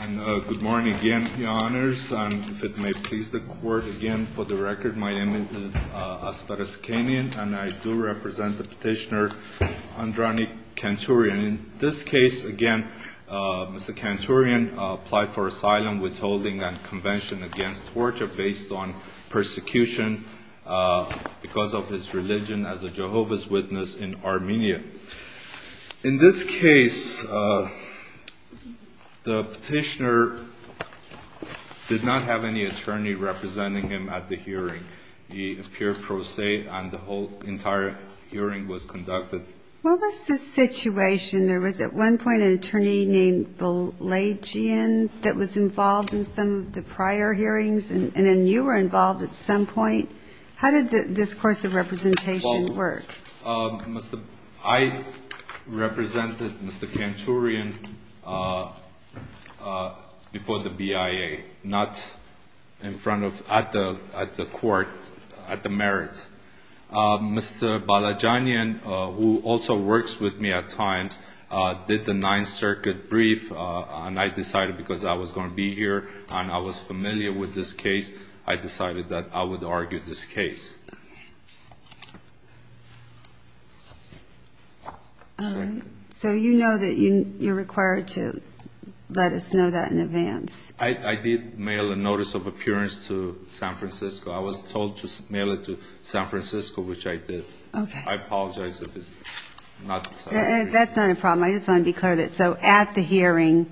And good morning again, Your Honors. And if it may please the Court again for the record, my name is Asparas Kanyan, and I do represent the petitioner Andranik Kantourian. In this case, again, Mr. Kantourian applied for asylum, withholding, and convention against torture based on persecution because of his religion as a Jehovah's Witness in Armenia. In this case, the petitioner did not have any attorney representing him at the hearing. He appeared pro se, and the whole entire hearing was conducted. What was the situation? There was at one point an attorney named Balajian that was involved in some of the prior hearings, and then you were involved at some point. How did this course of representation work? Asparas Kanyan I represented Mr. Kantourian before the BIA, not in front of, at the court, at the merits. Mr. Balajian, who also works with me at times, did the Ninth Circuit brief, and I decided because I was going to be here and I was familiar with this case, I decided that I would argue this case. So you know that you're required to let us know that in advance? I did mail a notice of appearance to San Francisco. I was told to mail it to San Francisco, which I did. I apologize if it's not... That's not a problem. I just want to be clear that, so at the hearing,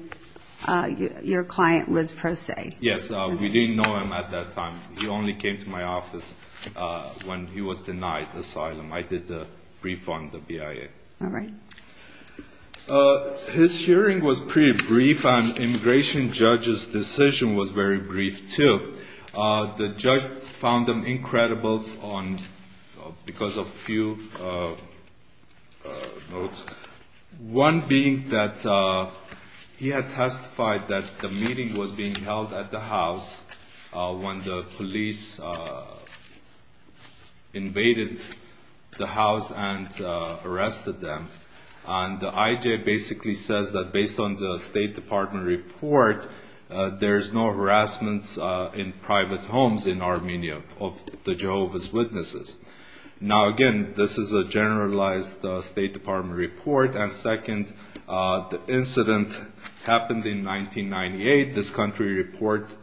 your client was pro se? Yes, we didn't know him at that time. He only came to my office when he was denied asylum. I did the brief on the BIA. His hearing was pretty brief, and immigration judge's decision was very brief too. The judge found them incredible because of a few notes, one being that he had testified that the meeting was being held at the house when the police invaded the house and arrested them. The I.J. basically says that based on the State Department report, there's no harassment in private homes in Armenia of the Jehovah's Witnesses. Now again, this is a generalized State Department report, and second, the incident happened in 1998. This country report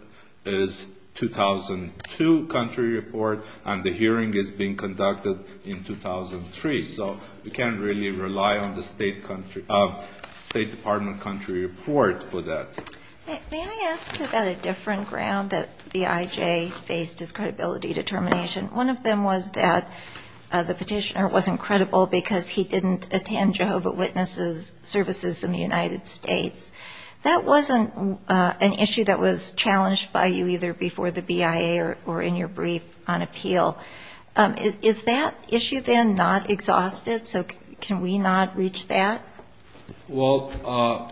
is 2002 country report, and the hearing is being conducted in 2003, so we can't really rely on the State Department country report for that. May I ask you about a different ground that the I.J. based his credibility determination? One of them was that the petitioner wasn't credible because he didn't attend Jehovah's Witnesses services in the United States. That wasn't an issue that was challenged by you either before the BIA or in your brief on appeal. Is that issue then not exhausted? So can we not reach that? Well,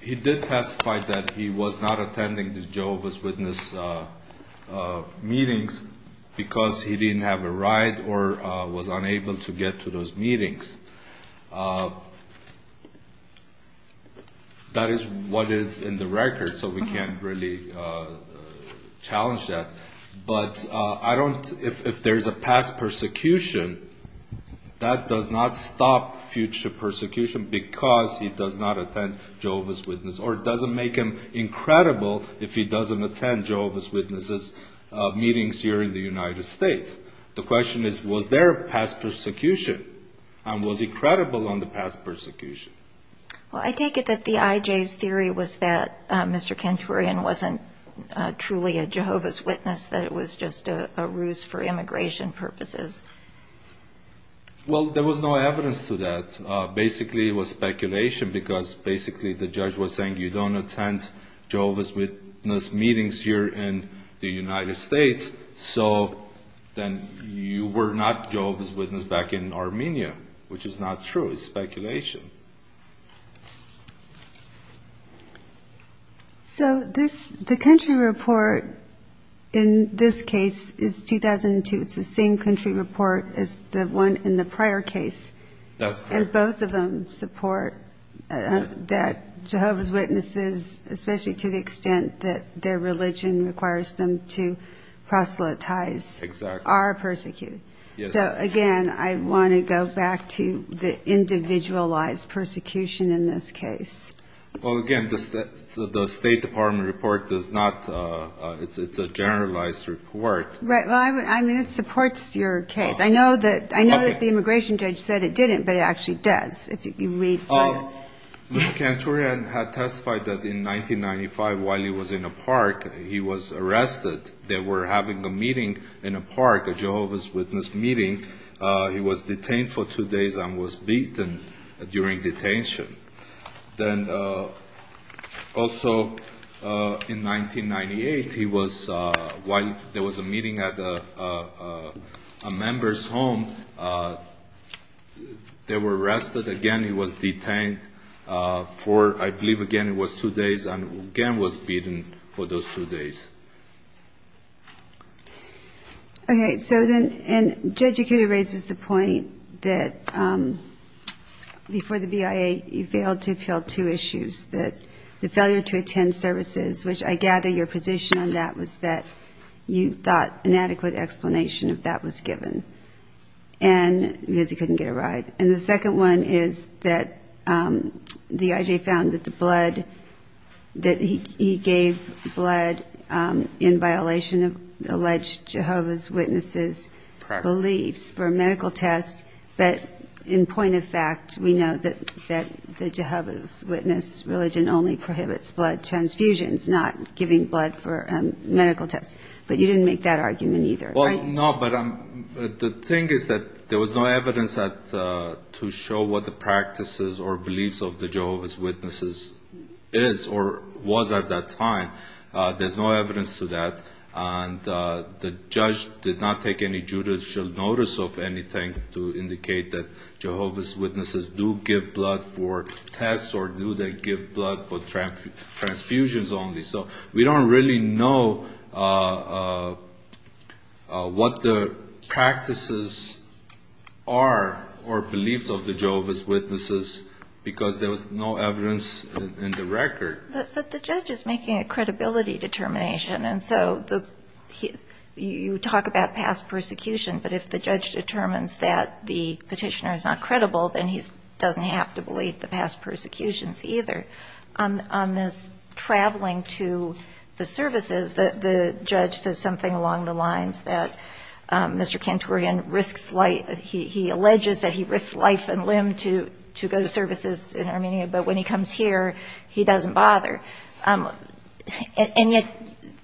he did testify that he was not attending the Jehovah's Witness meetings because he That is what is in the record, so we can't really challenge that. But if there's a past persecution, that does not stop future persecution because he does not attend Jehovah's Witnesses, or it doesn't make him incredible if he doesn't attend Jehovah's Witnesses meetings here in the United States. The question is, was there a past persecution, and was he credible on the past persecution? Well, I take it that the I.J.'s theory was that Mr. Kenturian wasn't truly a Jehovah's Witness, that it was just a ruse for immigration purposes. Well, there was no evidence to that. Basically, it was speculation because basically the judge was saying you don't attend Jehovah's Witness meetings here in the United States, so then you were not Jehovah's Witness back in Armenia, which is not true. It's speculation. So the country report in this case is 2002. It's the same country report as the one in the prior case, and both of them support that Jehovah's Witnesses, especially to the extent that their religion requires them to proselytize, are persecuted. So again, I want to go back to the individualized persecution in this case. Well, again, the State Department report does not, it's a generalized report. Right, well, I mean, it supports your case. I know that the immigration judge said it didn't, but it actually does, if you read from it. Mr. Kantourian had testified that in 1995, while he was in a park, he was arrested. They were having a meeting in a park, a Jehovah's Witness meeting. He was detained for two days and was beaten during detention. Then also in 1998, he was, while there was a meeting at a member's home, they were arrested again. He was detained. I believe again it was two days, and again was beaten for those two days. Okay, so then, and Judge Ikeda raises the point that before the BIA, you failed to appeal two issues, that the failure to attend services, which I gather your position on that was that you thought an adequate explanation of that was given, because he couldn't get a ride. And the second one is that the IJ found that the blood, that he gave blood in violation of alleged Jehovah's Witnesses' beliefs for a medical test, but in point of fact, we know that the Jehovah's Witness religion only prohibits blood transfusions, not giving blood for a medical test. But you didn't make that argument either, right? No, but the thing is that there was no evidence to show what the practices or beliefs of the Jehovah's Witnesses is or was at that time. There's no evidence to that. And the judge did not take any judicial notice of anything to indicate that Jehovah's Witnesses do give blood for tests or do they give blood for transfusions only. So we don't really know what the practices are or beliefs of the Jehovah's Witnesses, because there was no evidence in the record. But the judge is making a credibility determination. And so you talk about past persecution, but if the judge determines that the petitioner is not credible, then he doesn't have to believe the past persecutions either. On this traveling to the services, the judge says something along the lines that Mr. Kantourian risks life. He alleges that he risks life and limb to go to services in Armenia, but when he comes here, he doesn't bother. And yet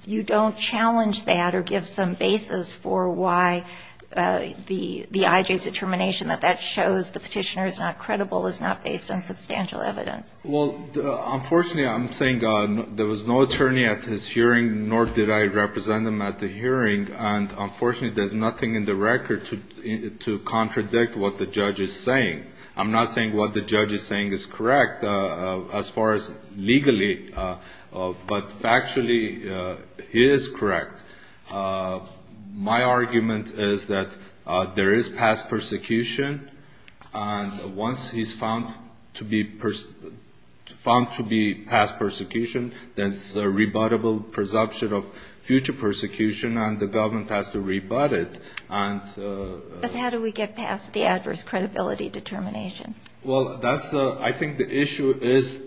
you don't challenge that or give some basis for why the IJ's determination that that shows the petitioner is not credible is not based on substantial evidence. Well, unfortunately, I'm saying there was no attorney at his hearing, nor did I represent him at the hearing. And unfortunately, there's nothing in the record to contradict what the judge is saying. I'm not saying what the judge is saying is correct as far as legally, but factually, it is correct. My argument is that there is past persecution, and once he's found to be past persecution, there's a rebuttable presumption of future persecution and the government has to rebut it. But how do we get past the adverse credibility determination? Well, that's the – I think the issue is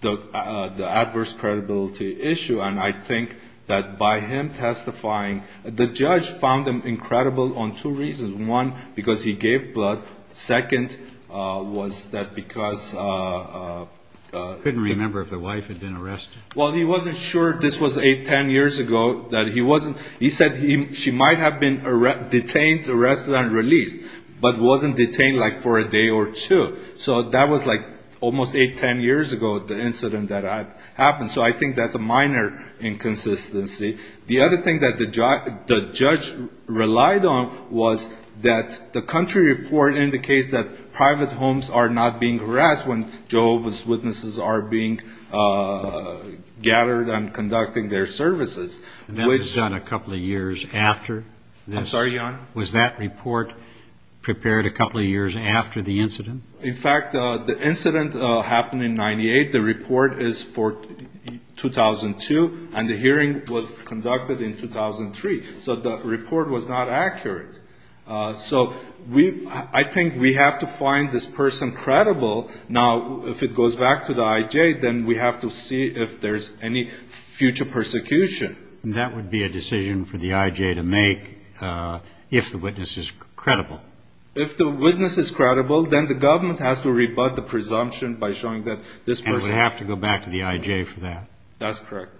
the adverse credibility issue. And I think that by him testifying – the judge found him incredible on two reasons. One, because he gave blood. Second was that because the – I couldn't remember if the wife had been arrested. Well, he wasn't sure this was eight, ten years ago that he wasn't – he said she might have been detained, arrested, and released, but wasn't detained like for a day or two. So that was like almost eight, ten years ago, the incident that happened. So I think that's a minor inconsistency. The other thing that the judge relied on was that the country report indicates that private witnesses are being gathered and conducting their services. And that was done a couple of years after this? I'm sorry, Your Honor? Was that report prepared a couple of years after the incident? In fact, the incident happened in 98. The report is for 2002, and the hearing was conducted in 2003. So the report was not accurate. So we – I think we have to find this person credible. Now, if it goes back to the I.J., then we have to see if there's any future persecution. That would be a decision for the I.J. to make if the witness is credible. If the witness is credible, then the government has to rebut the presumption by showing that this person – And we have to go back to the I.J. for that? That's correct.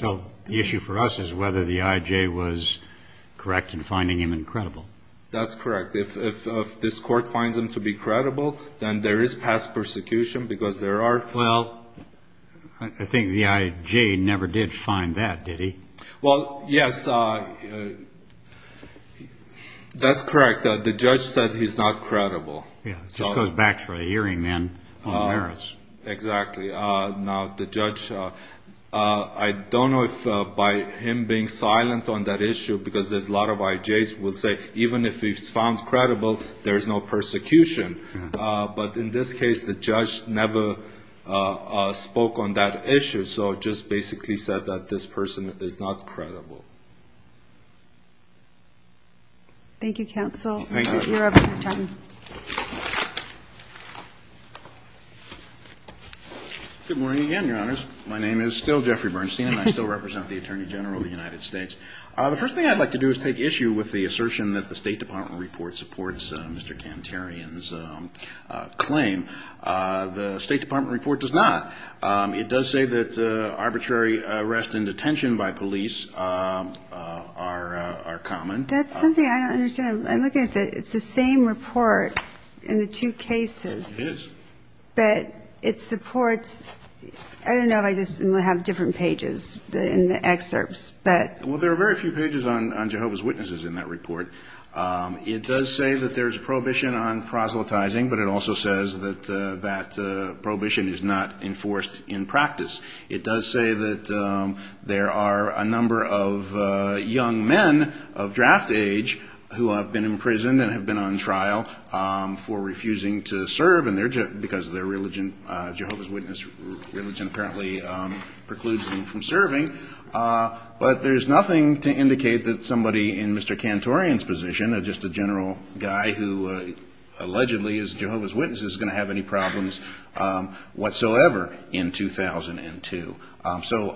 So the issue for us is whether the I.J. was correct in finding him incredible. That's correct. If this court finds him to be credible, then there is past persecution because there are – Well, I think the I.J. never did find that, did he? Well, yes. That's correct. The judge said he's not credible. Yeah, it just goes back to the hearing, then, on the merits. Exactly. Now, the judge – I don't know if by him being silent on that issue, because there's a lot of I.J.s who would say, even if he's found credible, there's no persecution. But in this case, the judge never spoke on that issue. So it just basically said that this person is not credible. Thank you, counsel. Thank you. You're up, John. Good morning again, Your Honors. My name is still Jeffrey Bernstein, and I still represent the Attorney General of the United States. The first thing I'd like to do is take issue with the assertion that the State Department report supports Mr. Kantarian's claim. The State Department report does not. It does say that arbitrary arrest and detention by police are common. That's something I don't understand. I'm looking at the – it's the same report in the two cases. It is. But it supports – I don't know if I just have different pages in the excerpts, but – Well, there are very few pages on Jehovah's Witnesses in that report. It does say that there's prohibition on proselytizing, but it also says that that prohibition is not enforced in practice. It does say that there are a number of young men of draft age who have been imprisoned and have been on trial for refusing to serve, and they're – because of their religion, Jehovah's Witness religion apparently precludes them from serving. But there's nothing to indicate that somebody in Mr. Kantarian's position, just a general guy who allegedly is a Jehovah's Witness, is going to have any problems whatsoever in 2002. So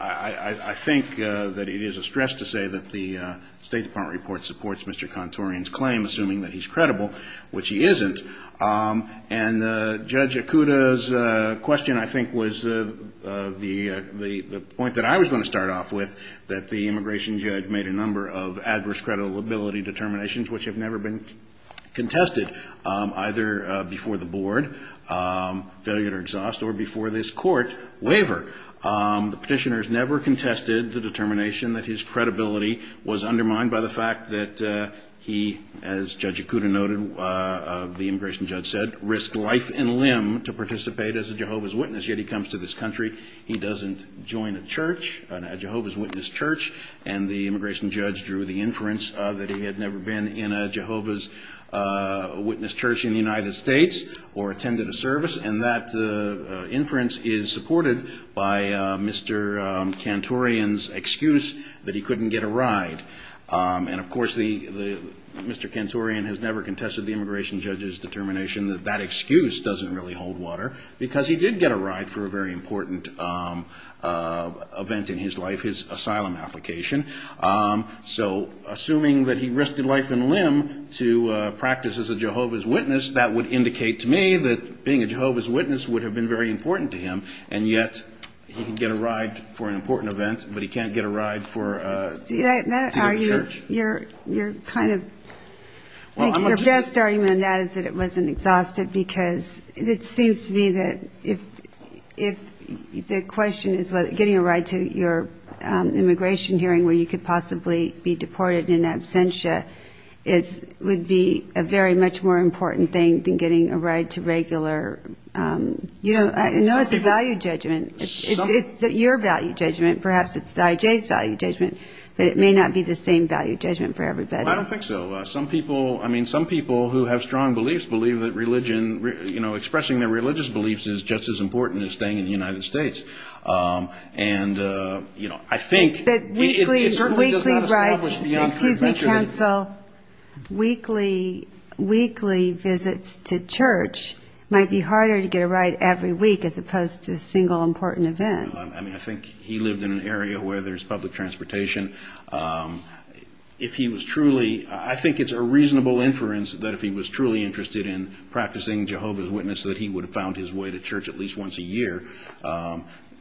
I think that it is a stress to say that the State Department report supports Mr. Kantarian's claim, assuming that he's credible, which he isn't. And Judge Okuda's question, I think, was the point that I was going to start off with, that the immigration judge made a number of adverse credibility determinations which have never been contested, either before the board, failure to exhaust, or before this court, waiver. The petitioners never contested the determination that his credibility was undermined by the fact that he, as Judge Okuda noted, the immigration judge said, risked life and limb to participate as a Jehovah's Witness, yet he comes to this country. He doesn't join a church, a Jehovah's Witness church, and the immigration judge drew the inference that he had never been in a Jehovah's Witness church in the United States, or attended a service, and that inference is supported by Mr. Kantarian's excuse that he couldn't get a ride. And of course, Mr. Kantarian has never contested the immigration judge's determination that that excuse doesn't really hold water, because he did get a ride for a very important event in his life, his asylum application. So, assuming that he risked life and limb to practice as a Jehovah's Witness, that would indicate to me that being a Jehovah's Witness would have been very important to him, and yet, he could get a ride for an important event, but he can't get a ride to the church? Your best argument on that is that it wasn't exhaustive, because it seems to me that if the question is getting a ride to your immigration hearing where you could possibly be deported in absentia, it would be a very much more important thing than getting a ride to regular, you know, I know it's a value judgment. It's your value judgment. Perhaps it's the IJ's value judgment, but it may not be the same value judgment for everybody. Well, I don't think so. Some people, I mean, some people who have strong beliefs believe that religion, you know, expressing their religious beliefs is just as important as staying in the United States. And, you know, I think... But weekly rides, excuse me, counsel, weekly visits to church might be harder to get a ride every week as opposed to a single important event. I mean, I think he lived in an area where there's public transportation. If he was truly, I think it's a reasonable inference that if he was truly interested in practicing Jehovah's Witnesses, he would go to church every year,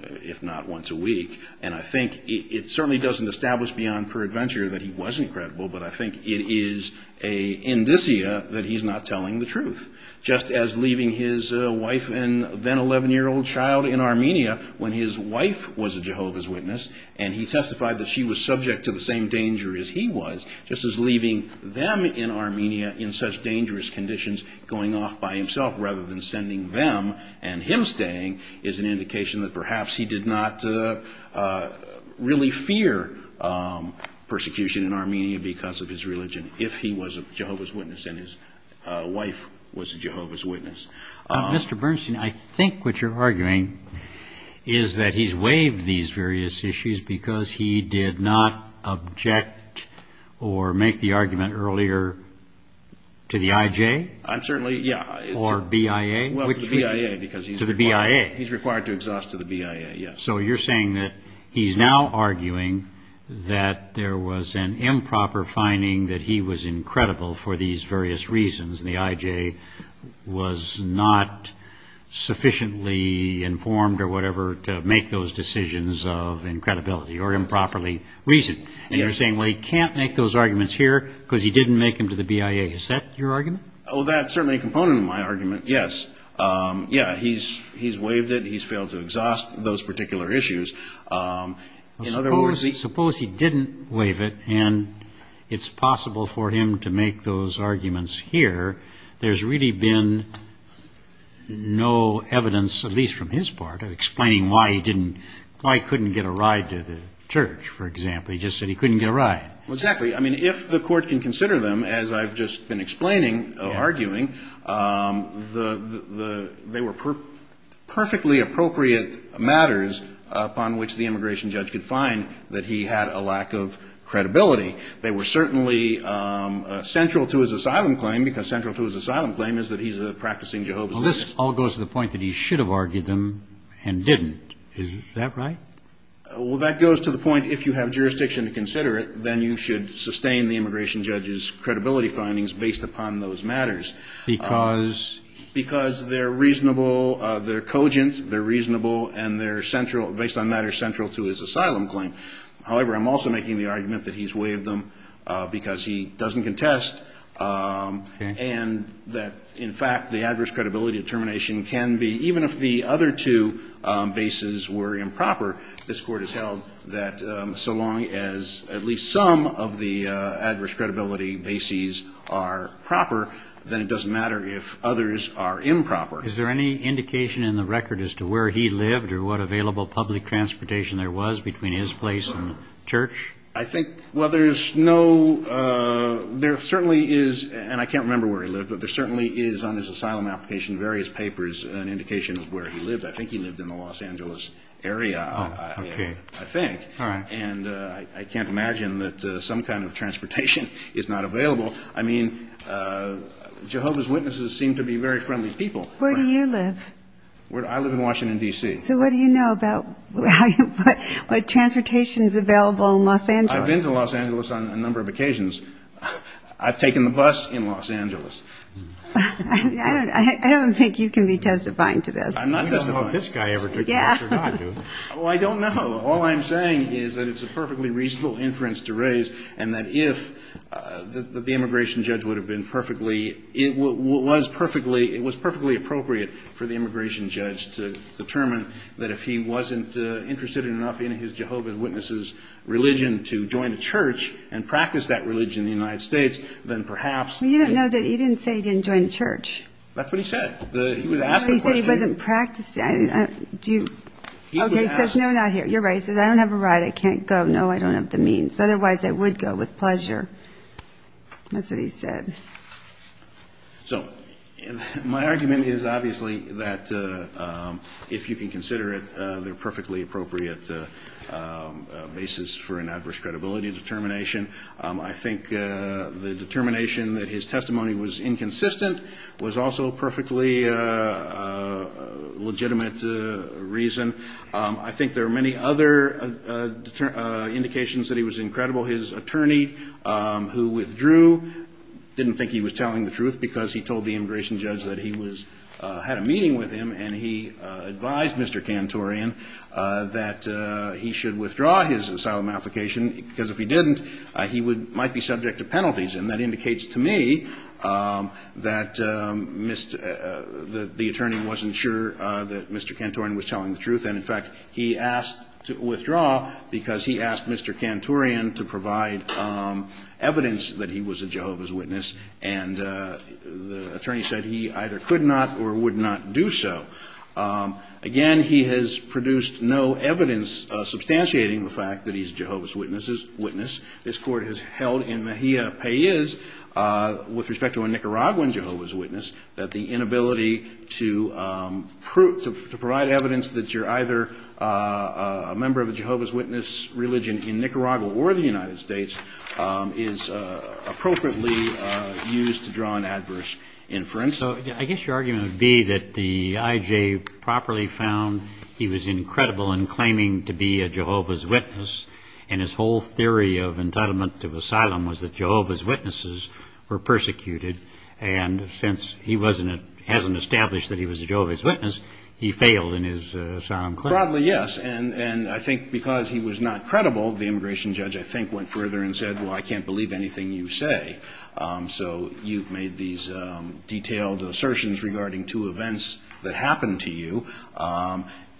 if not once a week. And I think it certainly doesn't establish beyond peradventure that he wasn't credible, but I think it is an indicia that he's not telling the truth. Just as leaving his wife and then 11-year-old child in Armenia when his wife was a Jehovah's Witness and he testified that she was subject to the same danger as he was, just as leaving them in Armenia in such dangerous conditions, going off by himself rather than sending them and him staying, is an indication that perhaps he did not really fear persecution in Armenia because of his religion if he was a Jehovah's Witness and his wife was a Jehovah's Witness. Mr. Bernstein, I think what you're arguing is that he's waived these various issues because he did not object or make the argument earlier to the IJ? I'm certainly, yeah. Or BIA? Well, to the BIA because he's required to exhaust to the BIA, yes. So you're saying that he's now arguing that there was an improper finding that he was incredible for these various reasons and the IJ was not sufficiently informed or whatever to make those decisions of incredibility or improperly reasoned. And you're saying, well, he can't make those arguments here because he didn't make them to the BIA. Is that your Well, that's certainly a component of my argument, yes. Yeah, he's waived it. He's failed to exhaust those particular issues. Suppose he didn't waive it and it's possible for him to make those arguments here. There's really been no evidence, at least from his part, of explaining why he couldn't get a ride to the church, for example. He just said he couldn't get a ride. Exactly. I mean, if the court can consider them, as I've just been explaining or arguing, they were perfectly appropriate matters upon which the immigration judge could find that he had a lack of credibility. They were certainly central to his asylum claim because central to his asylum claim is that he's a practicing Jehovah's Witness. This all goes to the point that he should have argued them and didn't. Is that right? Well, that goes to the point, if you have jurisdiction to consider it, then you should sustain the immigration judge's credibility findings based upon those matters. Because? Because they're reasonable, they're cogent, they're reasonable, and they're central, based on matters central to his asylum claim. However, I'm also making the argument that he's waived them because he doesn't contest and that, in fact, the adverse credibility determination can be, even if the other two bases were improper, this Court has held that so long as at least some of the adverse credibility bases are proper, then it doesn't matter if others are improper. Is there any indication in the record as to where he lived or what available public transportation there was between his place and the church? I think, well, there's no, there certainly is, and I can't remember where he lived, but there certainly is on his asylum application various papers an indication of where he lived. I think he lived in the Los Angeles area, I think, and I can't imagine that some kind of transportation is not available. I mean, Jehovah's Witnesses seem to be very friendly people. Where do you live? I live in Washington, D.C. So what do you know about what transportation is available in Los Angeles? I've been to Los Angeles on a number of occasions. I've taken the bus in Los Angeles. I don't think you can be testifying to this. I'm not testifying. I don't know if this guy ever took the bus or not. Well, I don't know. All I'm saying is that it's a perfectly reasonable inference to raise and that if the immigration judge would have been perfectly, it was perfectly, it was perfectly appropriate for the immigration judge to determine that if he wasn't interested enough in his ability to join a church and practice that religion in the United States, then perhaps You didn't say he didn't join a church. That's what he said. He said he wasn't practicing. He says, no, not here. You're right. He says, I don't have a right. I can't go. No, I don't have the means. Otherwise, I would go with pleasure. That's what he said. So my argument is obviously that if you can consider it the perfectly appropriate basis for an adverse credibility determination, I think the determination that his testimony was inconsistent was also perfectly legitimate reason. I think there are many other indications that he was incredible. His attorney, who withdrew, didn't think he was telling the truth because he told the immigration judge that he had a meeting with him and he advised Mr. Kantorian that he should withdraw his asylum application, because if he didn't, he might be subject to penalties. And that indicates to me that the attorney wasn't sure that Mr. Kantorian was telling the truth. And, in fact, he asked to withdraw because he asked Mr. Kantorian to provide evidence that he was a Jehovah's Witness, and the attorney said he either could not or would not do so. Again, he has produced no evidence substantiating the fact that he's a Jehovah's Witness. This Court has held in Mejia Pes with respect to a Nicaraguan Jehovah's Witness that the inability to provide evidence that you're either a member of a Jehovah's Witness religion in Nicaragua or the United States is appropriately used to draw an adverse inference. So I guess your argument would be that the IJ properly found he was incredible in claiming to be a Jehovah's Witness, and his whole theory of entitlement to asylum was that Jehovah's Witnesses were persecuted, and since he hasn't established that he was a Jehovah's Witness, he failed in his asylum claim. Broadly, yes, and I think because he was not credible, the immigration judge, I think, went further and said, well, I can't believe anything you say, so you've made these detailed assertions regarding two events that happened to you,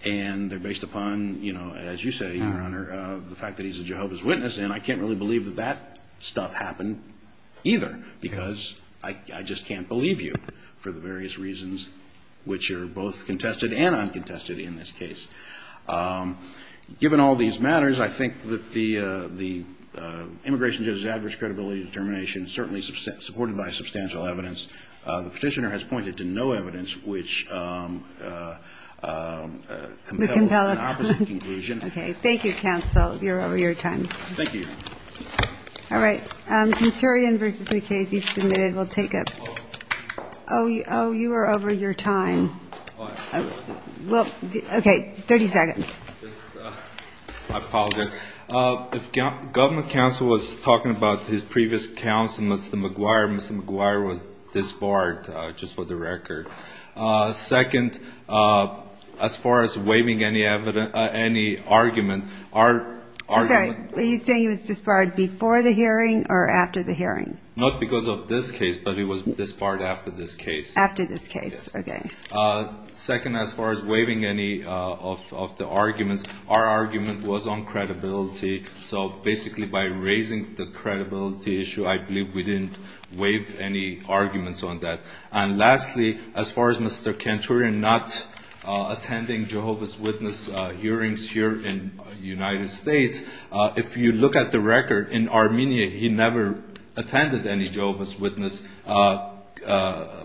and they're based upon, as you say, Your Honor, the fact that he's a Jehovah's Witness, and I can't really believe that that stuff happened either because I just can't believe you for the various reasons which are both contested and uncontested in this case. Given all these matters, I think that the immigration judge's adverse credibility determination is certainly supported by substantial evidence. The Petitioner has pointed to no evidence which compel an opposite conclusion. Okay. Thank you, counsel. You're over your time. Thank you, Your Honor. All right. Kenturian v. McKay, as he's submitted, will take up. Oh, you are over your time. Well, okay, 30 seconds. If government counsel was talking about his previous counsel, Mr. McGuire, Mr. McGuire was disbarred, just for the record. Second, as far as waiving any argument, our argument was disbarred. Disbarred before the hearing or after the hearing? Not because of this case, but it was disbarred after this case. After this case. Okay. Second, as far as waiving any of the arguments, our argument was on credibility, so basically by raising the credibility issue, I believe we didn't waive any arguments on that. And lastly, as far as Mr. Kenturian not attending Jehovah's Witness hearings here in the United States, if you look at the record, in Armenia, he never attended any Jehovah's Witness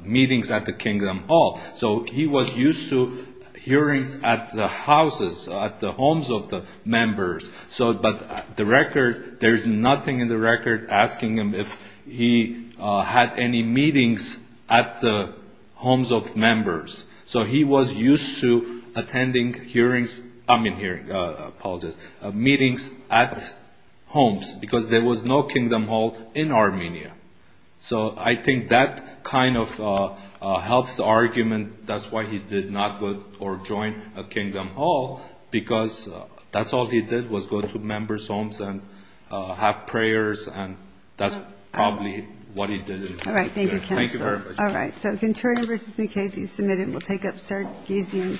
meetings at the Kingdom Hall. So he was used to hearings at the houses, at the homes of the members. But the record, there's nothing in the record asking him if he had any meetings at the homes of members. So he was used to attending hearings, I mean hearing, apologies, meetings at homes, because there was no Kingdom Hall in Armenia. So I think that kind of helps the argument, that's why he did not go or join a Kingdom Hall, because that's all he did was go to members' homes and have prayers, and that's probably what he did. All right. So Kenturian v. Mukasey is submitted, and we'll take up Sargisian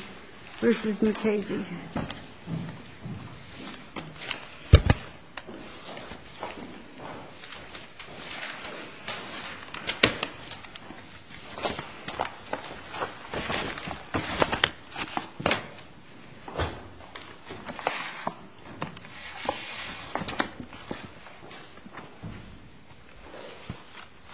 v. Mukasey. Thank you.